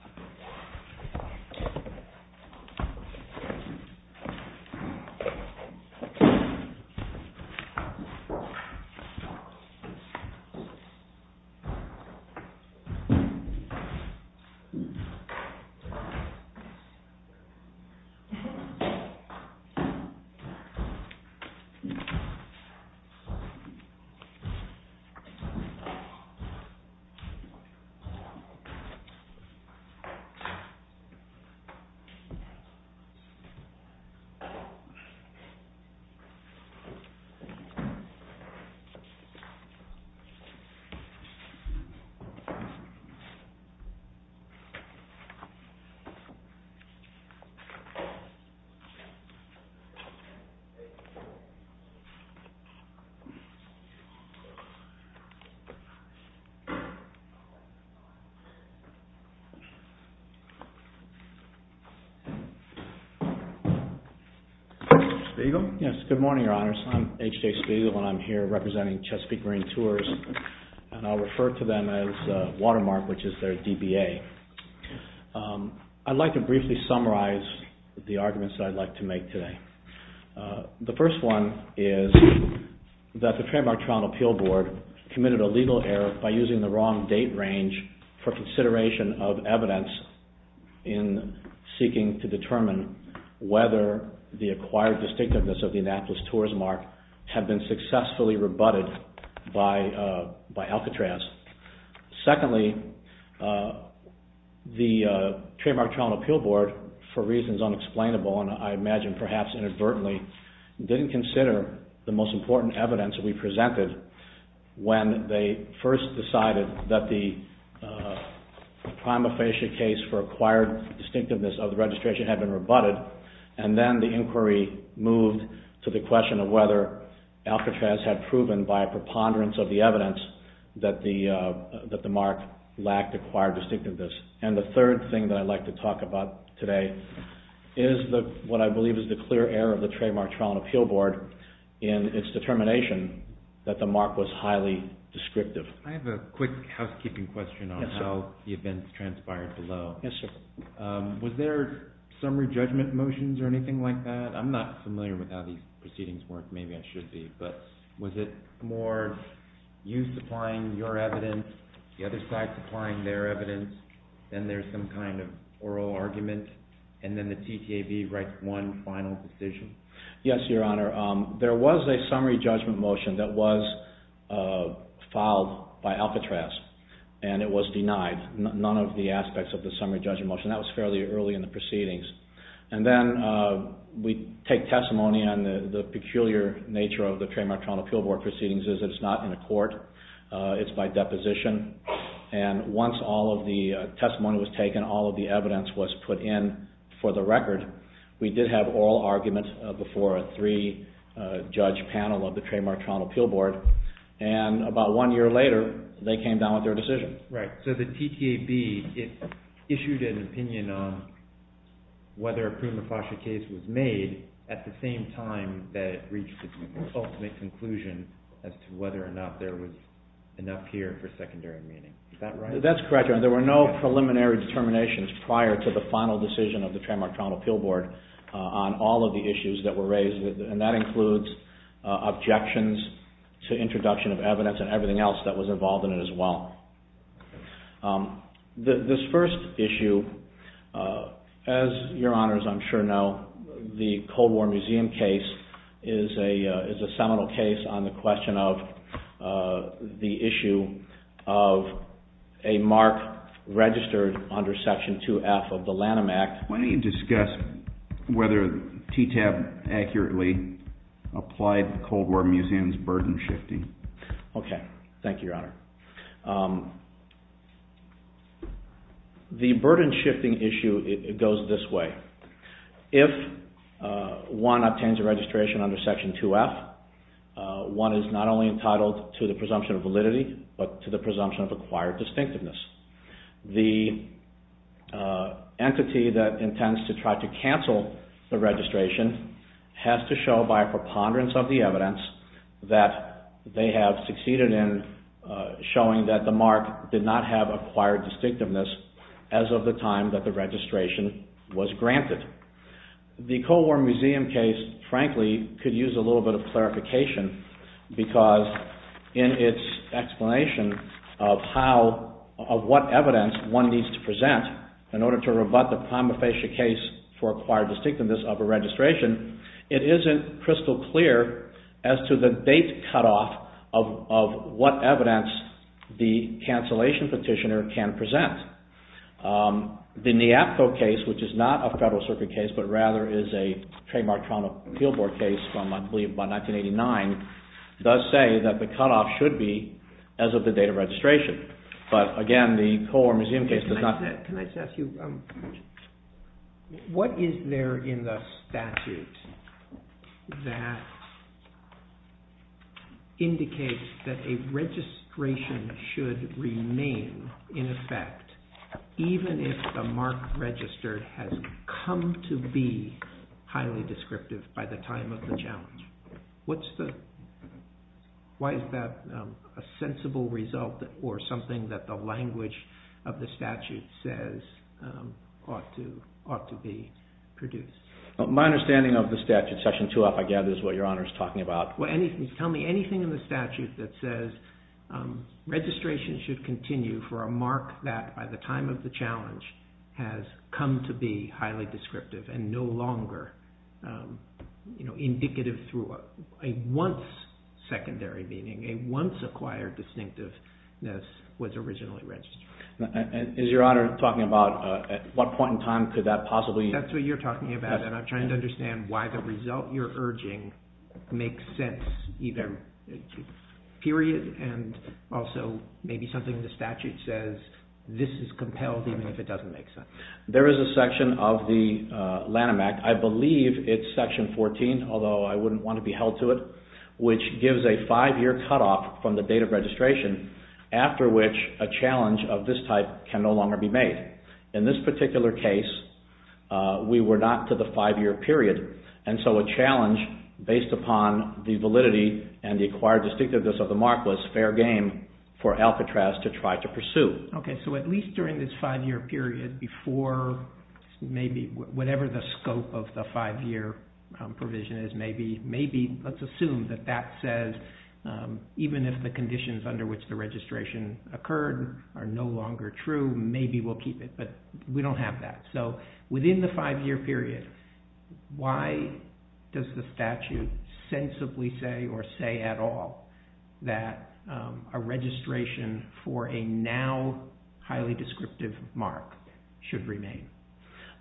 Yeah. Yeah. Yeah. Yeah. Yeah. Do we have any other questions? Speaker? Yes, good morning Your Honours. I'm H.J. Spegel, I'm here representing Chesapeake Marine Tours and I'll refer to them as Chief Watermark, which is their DBA. I'd like to briefly summarize the arguments that I'd like to make today. The first one is that the Trademark Trial and Appeal Board committed a legal error by using the wrong date range for consideration of evidence in seeking to determine whether the acquired distinctiveness of the Annapolis Tours mark had been successfully rebutted by Alcatraz. Secondly, the Trademark Trial and Appeal Board, for reasons unexplainable and I imagine perhaps inadvertently, didn't consider the most important evidence we presented when they first decided that the prima facie case for acquired distinctiveness of the registration had been rebutted, and then the inquiry moved to the question of whether Alcatraz had proven by a preponderance of the evidence that the mark lacked acquired distinctiveness. And the third thing that I'd like to talk about today is what I believe is the clear error of the Trademark Trial and Appeal Board in its determination that the mark was highly descriptive. I have a quick housekeeping question on how the events transpired below. Yes, sir. Was there summary judgment motions or anything like that? I'm not familiar with how these proceedings work, maybe I should be, but was it more you supplying your evidence, the other side supplying their evidence, then there's some kind of oral argument, and then the TTAB writes one final decision? Yes, Your Honor. There was a summary judgment motion that was filed by Alcatraz and it was denied, none of the aspects of the summary judgment motion, that was fairly early in the proceedings. And then we take testimony on the peculiar nature of the Trademark Trial and Appeal Board proceedings is that it's not in a court, it's by deposition, and once all of the testimony was taken, all of the evidence was put in for the record, we did have oral argument before a three-judge panel of the Trademark Trial and Appeal Board, and about one year later they came down with their decision. Right, so the TTAB, it issued an opinion on whether a prima facie case was made at the same time that it reached its ultimate conclusion as to whether or not there was enough here for secondary meaning, is that right? That's correct, Your Honor, there were no preliminary determinations prior to the final decision of the Trademark Trial and Appeal Board on all of the issues that were raised, and that includes objections to introduction of evidence and everything else that was involved in it as well. This first issue, as Your Honors I'm sure know, the Cold War Museum case is a seminal case on the question of the issue of a mark registered under Section 2F of the Lanham Act. Why don't you discuss whether TTAB accurately applied the Cold War Museum's burden shifting? Okay, thank you, Your Honor. The burden shifting issue goes this way. If one obtains a registration under Section 2F, one is not only entitled to the presumption of validity, but to the presumption of acquired distinctiveness. The entity that intends to try to cancel the registration has to show by a preponderance of the evidence that they have succeeded in showing that the mark did not have acquired distinctiveness as of the time that the registration was granted. The Cold War Museum case, frankly, could use a little bit of clarification because in its explanation of what evidence one needs to present in order to rebut the prima facie case for acquired distinctiveness of a registration, it isn't crystal clear as to the date cutoff of what evidence the cancellation petitioner can present. The NEAPCO case, which is not a Federal Circuit case, but rather is a Trademark Toronto Appeal Board case from, I believe, about 1989, does say that the cutoff should be as of the date of registration. But again, the Cold War Museum case does not... Can I just ask you, what is there in the statute that indicates that a registration should remain in effect even if the mark registered has come to be highly descriptive by the time of the challenge? Why is that a sensible result or something that the language of the statute says ought to be produced? My understanding of the statute, Section 2F, I gather, is what Your Honor is talking about. Tell me anything in the statute that says registration should continue for a mark that, by the time of the challenge, has come to be highly descriptive and no longer indicative through a once-secondary meaning, a once-acquired distinctiveness, was originally registered. Is Your Honor talking about at what point in time could that possibly... That's what you're talking about, and I'm trying to understand why the result you're urging makes sense, either period and also maybe something the statute says, this is compelled even if it doesn't make sense. There is a section of the Lanham Act, I believe it's Section 14, although I wouldn't want to be held to it, which gives a five-year cutoff from the date of registration after which a challenge of this type can no longer be made. In this particular case, we were not to the five-year period, and so a challenge based upon the validity and the acquired distinctiveness of the mark was fair game for Alcatraz to try to pursue. Okay, so at least during this five-year period before maybe whatever the scope of the five-year provision is, maybe let's assume that that says even if the conditions under which the So, within the five-year period, why does the statute sensibly say or say at all that a registration for a now highly descriptive mark should remain?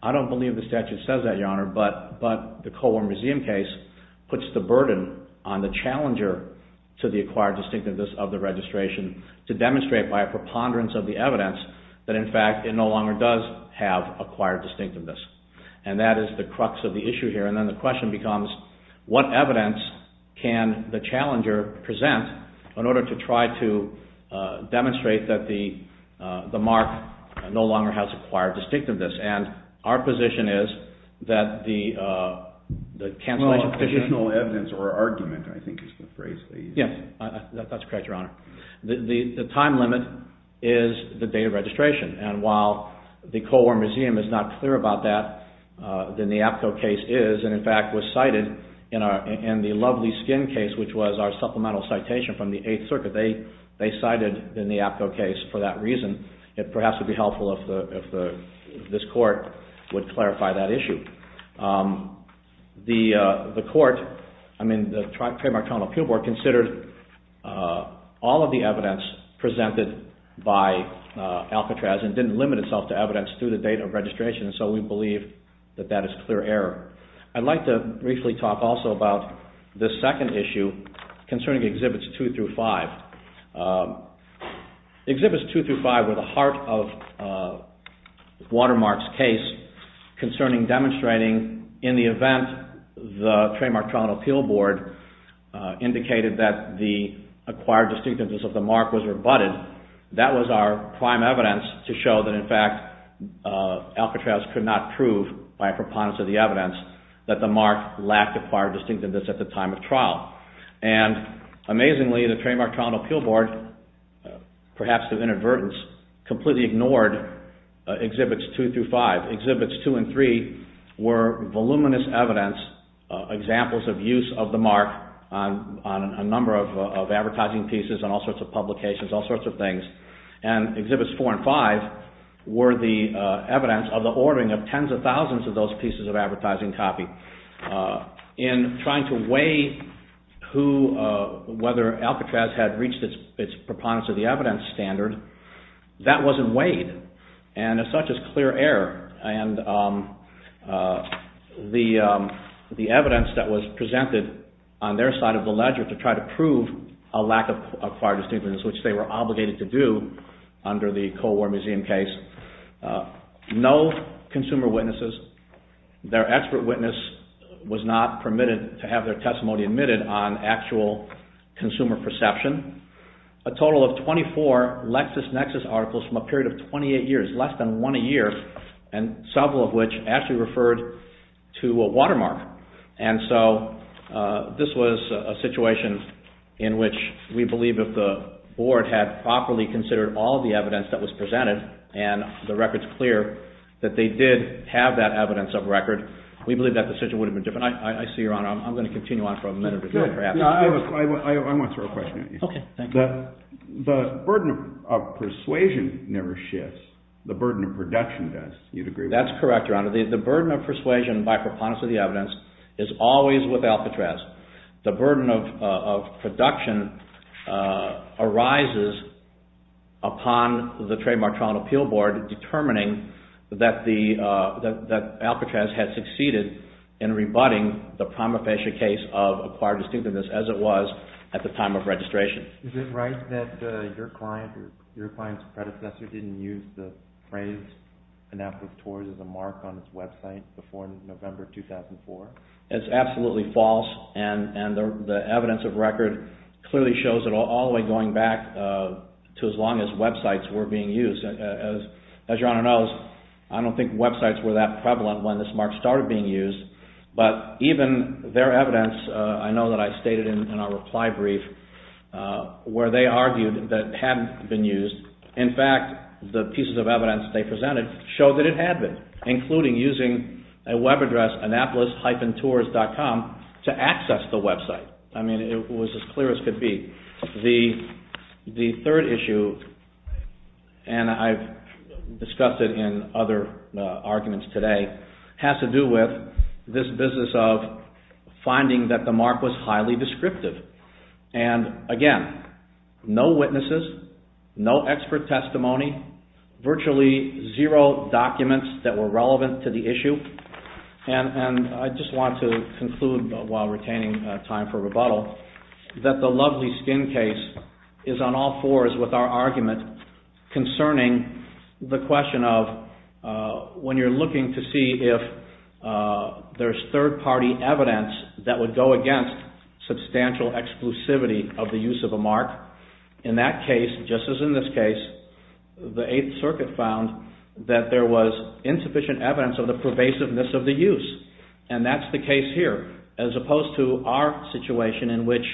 I don't believe the statute says that, Your Honor, but the Colborne Museum case puts the burden on the challenger to the acquired distinctiveness of the registration to demonstrate by a preponderance of the evidence that, in fact, it no longer does have acquired distinctiveness, and that is the crux of the issue here. And then the question becomes, what evidence can the challenger present in order to try to demonstrate that the mark no longer has acquired distinctiveness? And our position is that the cancellation… Well, additional evidence or argument, I think, is the phrase that you use. Yes, that's correct, Your Honor. The time limit is the date of registration, and while the Colborne Museum is not clear about that, then the APCO case is, and in fact was cited in the Lovely Skin case, which was our supplemental citation from the Eighth Circuit. They cited the APCO case for that reason. It perhaps would be helpful if this Court would clarify that issue. The Court, I mean, the Trademark Colonel Appeal Board, considered all of the evidence presented by Alcatraz and didn't limit itself to evidence through the date of registration, and so we believe that that is clear error. I'd like to briefly talk also about this second issue concerning Exhibits 2 through 5. Exhibits 2 through 5 were the heart of Watermark's case concerning demonstrating, in the event the Trademark Colonel Appeal Board indicated that the acquired distinctiveness of the mark was rebutted, that was our prime evidence to show that, in fact, Alcatraz could not prove, by a preponderance of the evidence, that the mark lacked acquired distinctiveness at the time of trial. And, amazingly, the Trademark Colonel Appeal Board, perhaps of inadvertence, completely ignored Exhibits 2 through 5. Exhibits 2 and 3 were voluminous evidence, examples of use of the mark on a number of advertising pieces, on all sorts of publications, all sorts of things, and Exhibits 4 and 5 were the evidence of the ordering of tens of thousands of those pieces of advertising copy. In trying to weigh whether Alcatraz had reached its preponderance of the evidence standard, that wasn't weighed, and as such is clear error. And the evidence that was presented on their side of the ledger to try to prove a lack of acquired distinctiveness, which they were obligated to do under the Cold War Museum case, no consumer witnesses. Their expert witness was not permitted to have their testimony admitted on actual consumer perception. A total of 24 LexisNexis articles from a period of 28 years, less than one a year, and several of which actually referred to a watermark. And so this was a situation in which we believe if the Board had properly considered all the evidence that was presented, and the record's clear that they did have that evidence of record, we believe that decision would have been different. I see, Your Honor, I'm going to continue on for a minute. I want to throw a question at you. Okay. Thank you. The burden of persuasion never shifts. The burden of production does, you'd agree with that? That's correct, Your Honor. The burden of persuasion by preponderance of the evidence is always with Alcatraz. The burden of production arises upon the Trademark Trial and Appeal Board determining that Alcatraz had succeeded in rebutting the prima facie case of acquired distinctiveness as it was at the time of registration. Is it right that your client or your client's predecessor didn't use the phrase, Anapolis Tours, as a mark on its website before November 2004? It's absolutely false, and the evidence of record clearly shows it all, all the way going back to as long as websites were being used. As Your Honor knows, I don't think websites were that prevalent when this mark started being used, but even their evidence, I know that I stated in our reply brief, where they argued that it hadn't been used. In fact, the pieces of evidence they presented showed that it had been, including using a web address, anapolis-tours.com, to access the website. I mean, it was as clear as could be. The third issue, and I've discussed it in other arguments today, has to do with this business of finding that the mark was highly descriptive. And again, no witnesses, no expert testimony, virtually zero documents that were relevant to the issue, and I just want to conclude while retaining time for rebuttal, that the Lovely Skin case is on all fours with our argument concerning the question of, when you're looking to see if there's third-party evidence that would go against substantial exclusivity of the use of a mark, in that case, just as in this case, the Eighth Circuit found that there was insufficient evidence of the pervasiveness of the use. And that's the case here, as opposed to our situation in which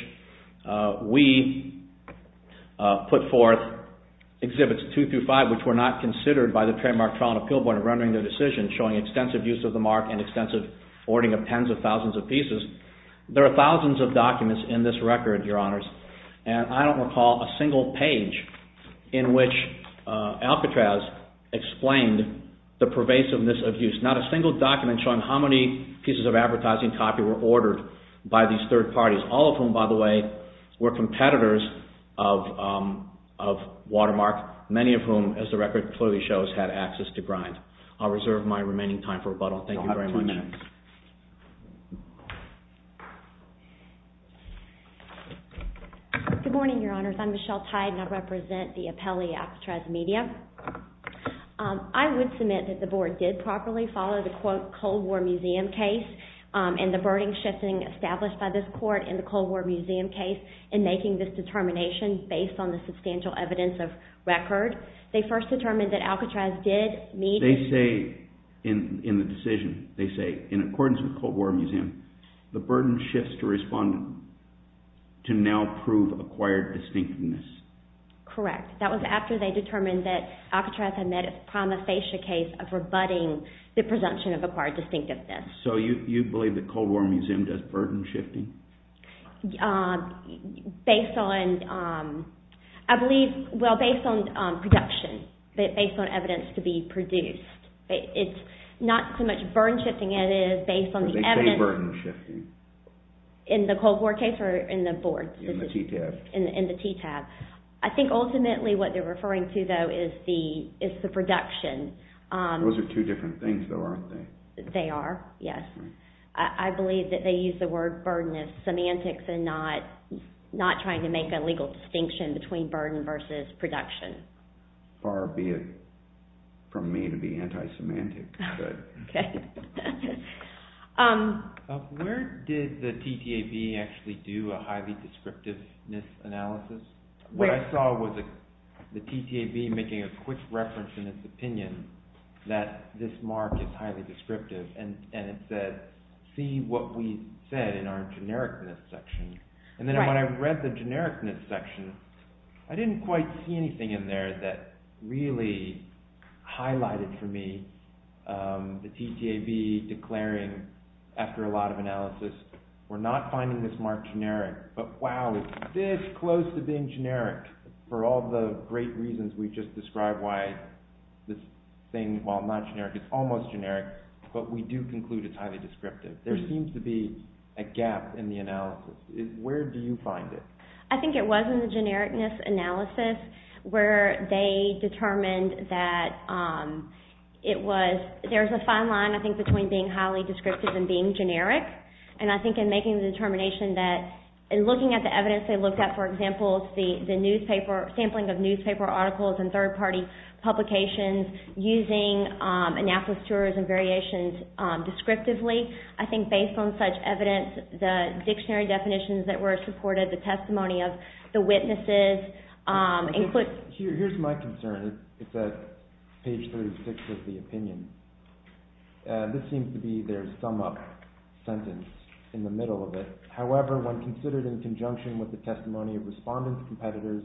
we put forth Exhibits 2 through 5, which were not considered by the Trademark Trial and Appeal Board in rendering their decision, showing extensive use of the mark and extensive hoarding of tens of thousands of pieces. There are thousands of documents in this record, Your Honors, and I don't recall a single page in which Alcatraz explained the pervasiveness of use. Not a single document showing how many pieces of advertising copy were ordered by these third parties, all of whom, by the way, were competitors of Watermark, many of whom, as the record clearly shows, had access to Grind. I'll reserve my remaining time for rebuttal. Thank you very much. Good morning, Your Honors. I'm Michelle Tide, and I represent the Appellee Alcatraz Media. I would submit that the Board did properly follow the Cold War Museum case and the burden shifting established by this Court in the Cold War Museum case in making this determination based on the substantial evidence of record. They first determined that Alcatraz did meet… They say in the decision, they say, in accordance with Cold War Museum, the burden shifts to respondent to now prove acquired distinctiveness. Correct. That was after they determined that Alcatraz had met its prima facie case of rebutting the presumption of acquired distinctiveness. So you believe that Cold War Museum does burden shifting? Based on, I believe, well, based on production, based on evidence to be produced. It's not so much burden shifting as it is based on the evidence… They say burden shifting. In the Cold War case or in the Board's? In the TTAB. In the TTAB. I think ultimately what they're referring to, though, is the production. Those are two different things, though, aren't they? They are, yes. I believe that they use the word burden as semantics and not trying to make a legal distinction between burden versus production. Far be it from me to be anti-semantic. Okay. Where did the TTAB actually do a highly descriptiveness analysis? What I saw was the TTAB making a quick reference in its opinion that this mark is highly descriptive, and it said, see what we said in our genericness section. And then when I read the genericness section, I didn't quite see anything in there that really highlighted for me the TTAB declaring, after a lot of analysis, we're not finding this mark generic. But, wow, it's this close to being generic for all the great reasons we just described, why this thing, while not generic, is almost generic, but we do conclude it's highly descriptive. There seems to be a gap in the analysis. Where do you find it? I think it was in the genericness analysis where they determined that there's a fine line, I think, between being highly descriptive and being generic. And I think in making the determination that, in looking at the evidence they looked at, for example, the sampling of newspaper articles and third-party publications using anaphylacturas and variations descriptively, I think based on such evidence, the dictionary definitions that were supported, the testimony of the witnesses, Here's my concern. It's at page 36 of the opinion. This seems to be their sum-up sentence in the middle of it. However, when considered in conjunction with the testimony of respondents and competitors,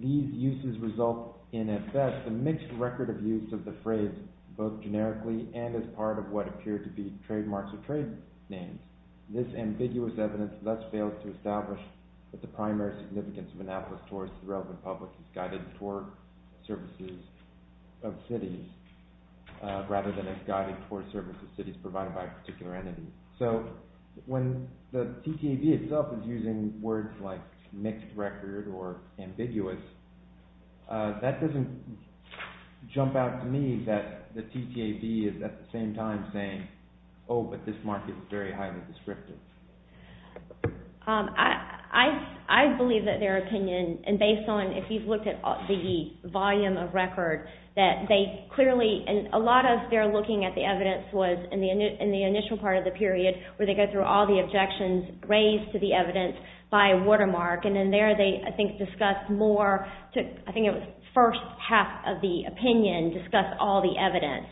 these uses result in, at best, a mixed record of use of the phrase, both generically and as part of what appear to be trademarks or trade names. This ambiguous evidence thus fails to establish that the primary significance of anaphylacturas to the relevant public is guided toward services of cities rather than as guided toward services of cities provided by a particular entity. So, when the TTAB itself is using words like mixed record or ambiguous, that doesn't jump out to me that the TTAB is at the same time saying, oh, but this mark is very highly descriptive. I believe that their opinion, and based on, if you've looked at the volume of record, that they clearly, and a lot of their looking at the evidence was in the initial part of the period, where they go through all the objections raised to the evidence by Watermark, and then there they, I think, discussed more, I think it was the first half of the opinion, discussed all the evidence.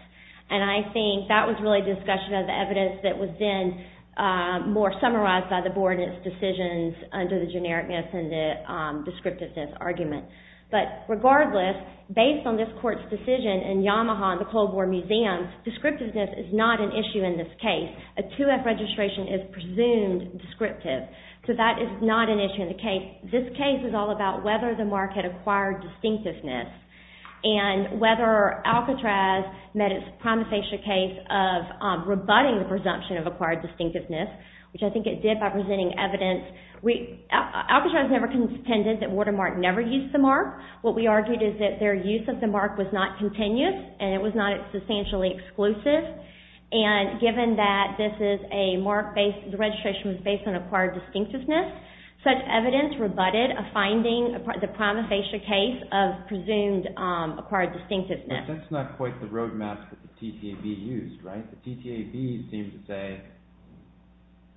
And I think that was really discussion of the evidence that was then more summarized by the Board in its decisions under the genericness and the descriptiveness argument. But, regardless, based on this Court's decision in Yamaha and the Colborne Museum, descriptiveness is not an issue in this case. A 2F registration is presumed descriptive. So that is not an issue in the case. This case is all about whether the mark had acquired distinctiveness and whether Alcatraz met its promisation case of rebutting the presumption of acquired distinctiveness, which I think it did by presenting evidence. Alcatraz never contended that Watermark never used the mark. What we argued is that their use of the mark was not continuous and it was not substantially exclusive. And given that this is a mark based, the registration was based on acquired distinctiveness, such evidence rebutted a finding, the promisation case of presumed acquired distinctiveness. But that's not quite the road map that the TTAB used, right? The TTAB seems to say,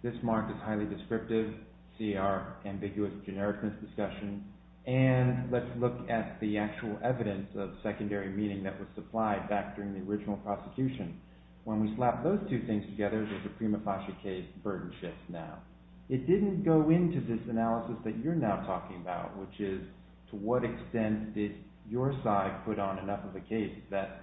this mark is highly descriptive, see our ambiguous genericness discussion, and let's look at the actual evidence of secondary meaning that was supplied back during the original prosecution. When we slap those two things together, there's a prima facie case burden shift now. It didn't go into this analysis that you're now talking about, which is to what extent did your side put on enough of a case that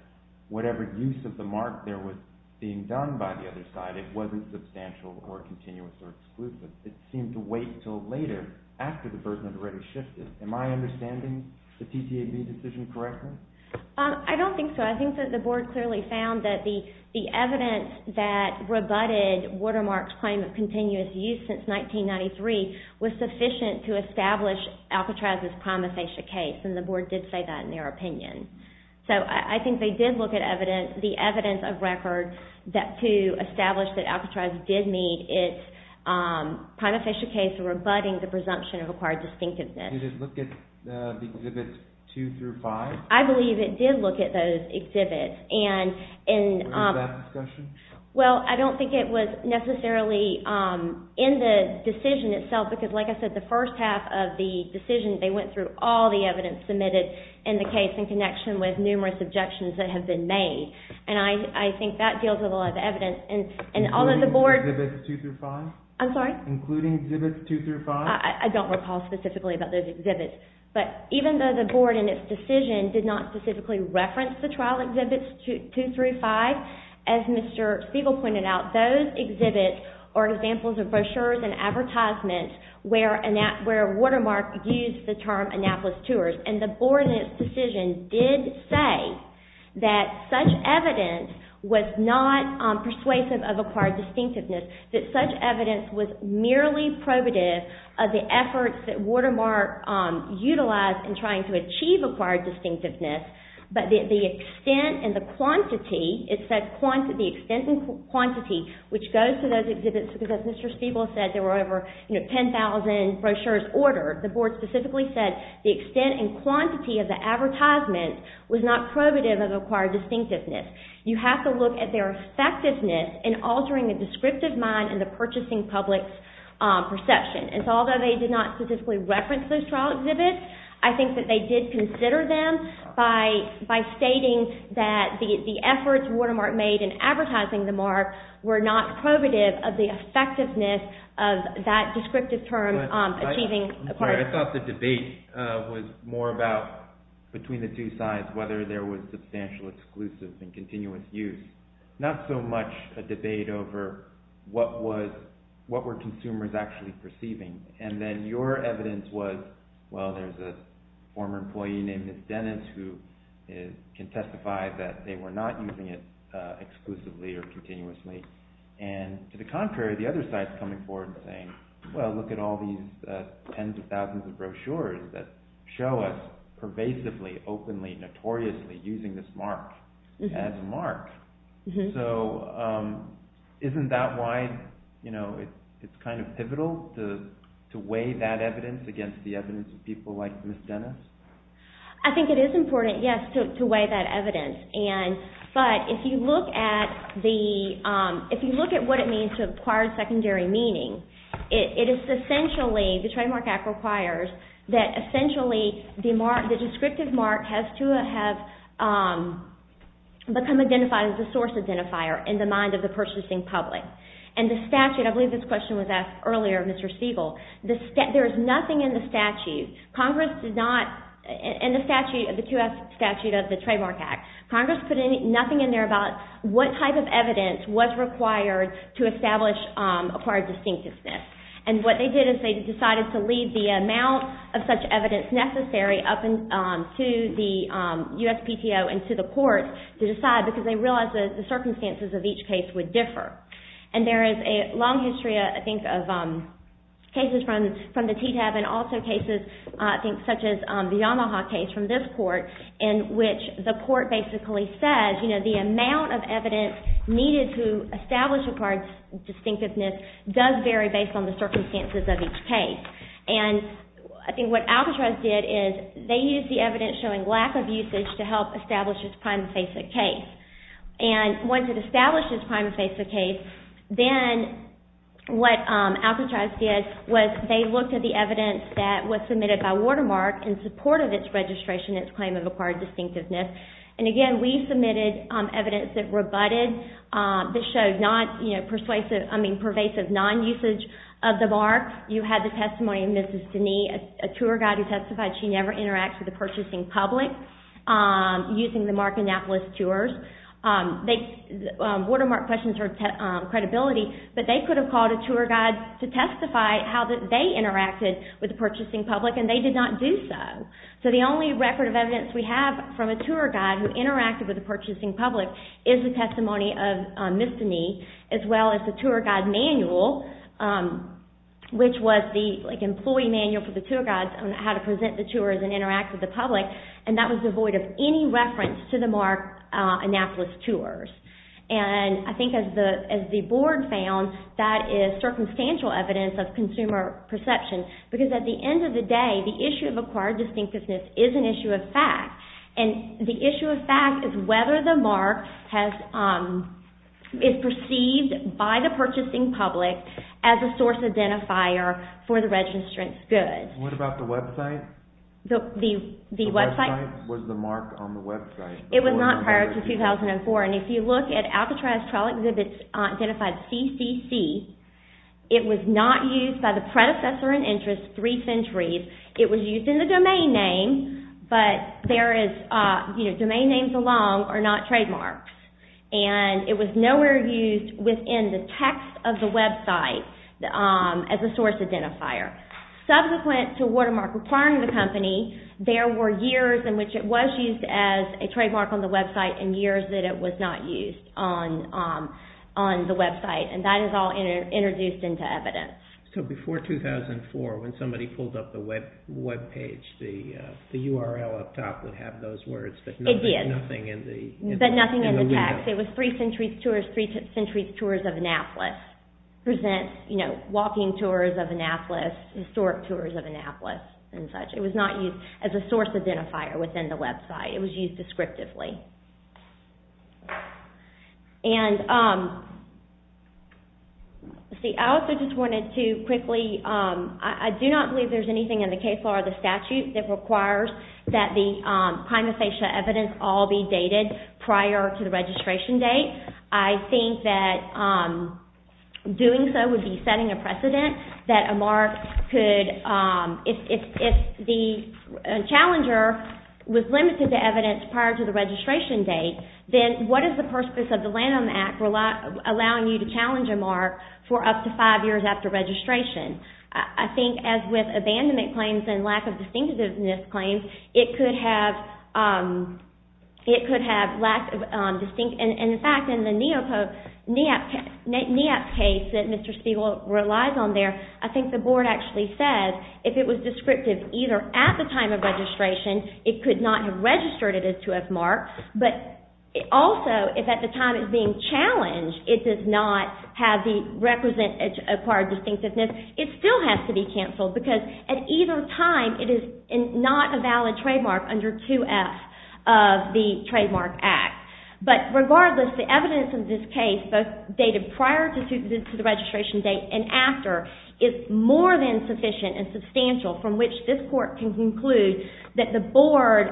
whatever use of the mark there was being done by the other side, it wasn't substantial or continuous or exclusive. It seemed to wait until later, after the burden had already shifted. Am I understanding the TTAB decision correctly? I don't think so. I think that the board clearly found that the evidence that rebutted Watermark's claim of continuous use since 1993 was sufficient to establish Alcatraz's prima facie case, and the board did say that in their opinion. So I think they did look at the evidence of record to establish that Alcatraz did need its prima facie case for rebutting the presumption of acquired distinctiveness. Did it look at the exhibits two through five? I believe it did look at those exhibits. And in that discussion? Well, I don't think it was necessarily in the decision itself, because like I said, the first half of the decision, they went through all the evidence submitted in the case in connection with numerous objections that have been made. And I think that deals with a lot of evidence. Including exhibits two through five? I'm sorry? Including exhibits two through five? I don't recall specifically about those exhibits. But even though the board in its decision did not specifically reference the trial exhibits two through five, as Mr. Spiegel pointed out, those exhibits are examples of brochures and advertisements where Watermark used the term Annapolis Tours. And the board in its decision did say that such evidence was not persuasive of acquired distinctiveness, that such evidence was merely probative of the efforts that Watermark utilized in trying to achieve acquired distinctiveness. But the extent and the quantity, it said the extent and quantity, which goes to those exhibits because Mr. Spiegel said there were over 10,000 brochures ordered. The board specifically said the extent and quantity of the advertisement was not probative of acquired distinctiveness. You have to look at their effectiveness in altering the descriptive mind and the purchasing public's perception. And so although they did not specifically reference those trial exhibits, I think that they did consider them by stating that the efforts Watermark made in advertising the mark were not probative of the effectiveness of that descriptive term achieving acquired distinctiveness. I'm sorry. I thought the debate was more about between the two sides, whether there was substantial exclusive and continuous use. Not so much a debate over what were consumers actually perceiving. And then your evidence was, well, there's a former employee named Ms. Dennis who can testify that they were not using it exclusively or continuously. And to the contrary, the other side is coming forward and saying, well, look at all these tens of thousands of brochures that show us pervasively, openly, notoriously using this mark as a mark. So isn't that why it's kind of pivotal to weigh that evidence against the evidence of people like Ms. Dennis? I think it is important, yes, to weigh that evidence. But if you look at what it means to acquire secondary meaning, it is essentially, the Trademark Act requires, that essentially the descriptive mark has to have become identified as a source identifier in the mind of the purchasing public. And the statute, I believe this question was asked earlier, Mr. Stegall, there is nothing in the statute, Congress did not, in the QF Statute of the Trademark Act, Congress put nothing in there about what type of evidence was required to establish acquired distinctiveness. And what they did is they decided to leave the amount of such evidence necessary up to the USPTO and to the court to decide because they realized the circumstances of each case would differ. And there is a long history, I think, of cases from the TTAB and also cases, I think, such as the Omaha case from this court in which the court basically says, you know, the amount of evidence needed to establish acquired distinctiveness does vary based on the circumstances of each case. And I think what Alcatraz did is, they used the evidence showing lack of usage to help establish its prime and face of case. And once it established its prime and face of case, then what Alcatraz did was they looked at the evidence that was submitted by Watermark in support of its registration and its claim of acquired distinctiveness. And again, we submitted evidence that rebutted, this showed not, you know, persuasive, I mean pervasive non-usage of the mark. You had the testimony of Mrs. Deney, a tour guide who testified she never interacted with the purchasing public using the Mark Annapolis tours. Watermark questions her credibility, but they could have called a tour guide to testify how they interacted with the purchasing public, and they did not do so. So the only record of evidence we have from a tour guide who interacted with the purchasing public is the testimony of Mrs. Deney, as well as the tour guide manual, which was the employee manual for the tour guides on how to present the tours and interact with the public, and that was devoid of any reference to the Mark Annapolis tours. And I think as the board found, that is circumstantial evidence of consumer perception, because at the end of the day, the issue of acquired distinctiveness is an issue of fact. And the issue of fact is whether the mark is perceived by the purchasing public as a source identifier for the registrant's goods. What about the website? The website was the mark on the website. It was not prior to 2004, and if you look at Alcatraz Trail Exhibits Identified CCC, it was not used by the predecessor in interest three centuries. It was used in the domain name, but domain names alone are not trademarks. And it was nowhere used within the text of the website as a source identifier. Subsequent to Watermark acquiring the company, there were years in which it was used as a trademark on the website and years that it was not used on the website, and that is all introduced into evidence. So before 2004, when somebody pulled up the webpage, the URL up top would have those words, but nothing in the window. It did, but nothing in the text. It was three centuries tours, three centuries tours of Annapolis, presents walking tours of Annapolis, historic tours of Annapolis, and such. It was not used as a source identifier within the website. It was used descriptively. I also just wanted to quickly, I do not believe there's anything in the case law or the statute that requires that the prima facie evidence all be dated prior to the registration date. I think that doing so would be setting a precedent that a mark could, if the challenger was limited to evidence prior to the registration date, then what is the purpose of the Landon Act allowing you to challenge a mark for up to five years after registration? I think as with abandonment claims and lack of distinctiveness claims, it could have lack of distinctiveness. In fact, in the NEOP case that Mr. Spiegel relies on there, I think the board actually said if it was descriptive either at the time of registration, it could not have registered it as to have marked, but also if at the time it's being challenged, it does not have the required distinctiveness, it still has to be canceled because at either time it is not a valid trademark under 2F of the Trademark Act. But regardless, the evidence in this case, both dated prior to the registration date and after, is more than sufficient and substantial from which this Court can conclude that the board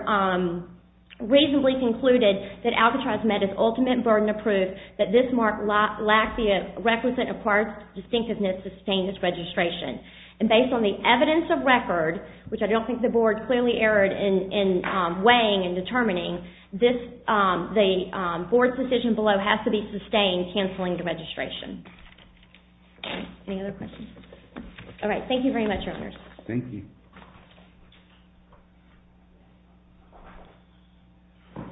reasonably concluded that Alcatraz Med is ultimate burden of proof that this mark lacks the requisite and requires distinctiveness to sustain its registration. And based on the evidence of record, which I don't think the board clearly erred in weighing and determining, the board's decision below has to be sustained canceling the registration. Any other questions? All right, thank you very much, Your Honors. Thank you. Thank you. I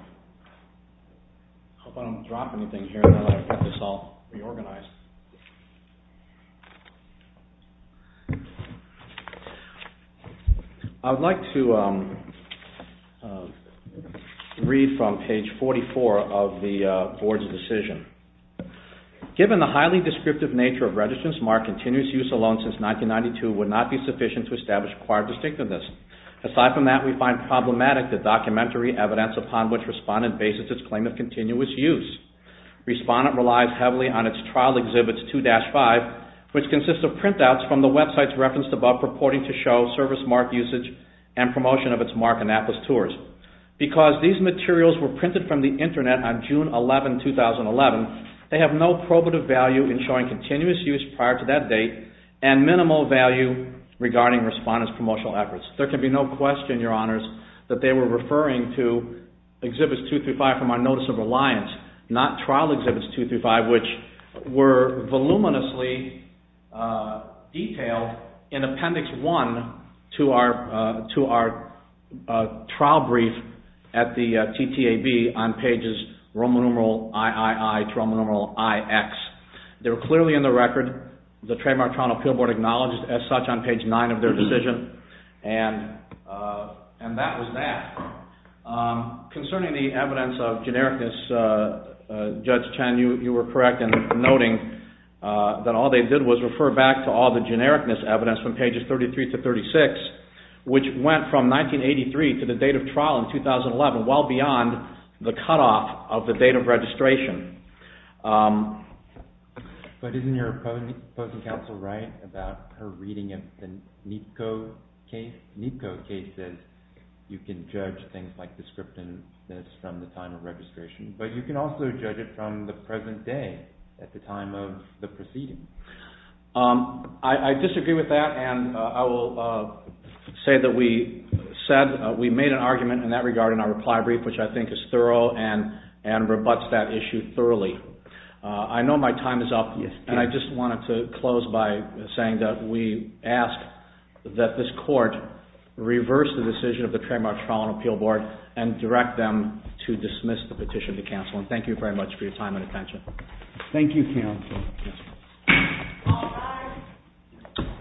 hope I don't drop anything here now that I've got this all reorganized. I would like to read from page 44 of the board's decision. Given the highly descriptive nature of registrants, mark continuous use alone since 1992 would not be sufficient to establish required distinctiveness. Aside from that, we find problematic the documentary evidence upon which Respondent bases its claim of continuous use. Respondent relies heavily on its trial exhibits 2-5, which consist of printouts from the websites referenced above purporting to show service mark usage and promotion of its Mark Annapolis tours. Because these materials were printed from the Internet on June 11, 2011, they have no probative value in showing continuous use prior to that date and minimal value regarding Respondent's promotional efforts. There can be no question, Your Honors, that they were referring to Exhibits 2-5 from our Notice of Reliance, not Trial Exhibits 2-5, which were voluminously detailed in Appendix 1 to our trial brief at the TTAB on pages Roman numeral III to Roman numeral IX. They were clearly in the record. The Trademark Toronto Appeal Board acknowledged as such on page 9 of their decision. And that was that. Concerning the evidence of genericness, Judge Chen, you were correct in noting that all they did was refer back to all the genericness evidence from pages 33 to 36, which went from 1983 to the date of trial in 2011, well beyond the cutoff of the date of registration. But isn't your opposing counsel right about her reading of the NEPCO cases? You can judge things like descriptiveness from the time of registration, but you can also judge it from the present day at the time of the proceedings. I disagree with that, and I will say that we made an argument in that regard in our reply brief, which I think is thorough and rebuts that issue thoroughly. I know my time is up, and I just wanted to close by saying that we ask that this Court reverse the decision of the Trademark Toronto Appeal Board and direct them to dismiss the petition to counsel. Thank you very much for your time and attention. Thank you, counsel.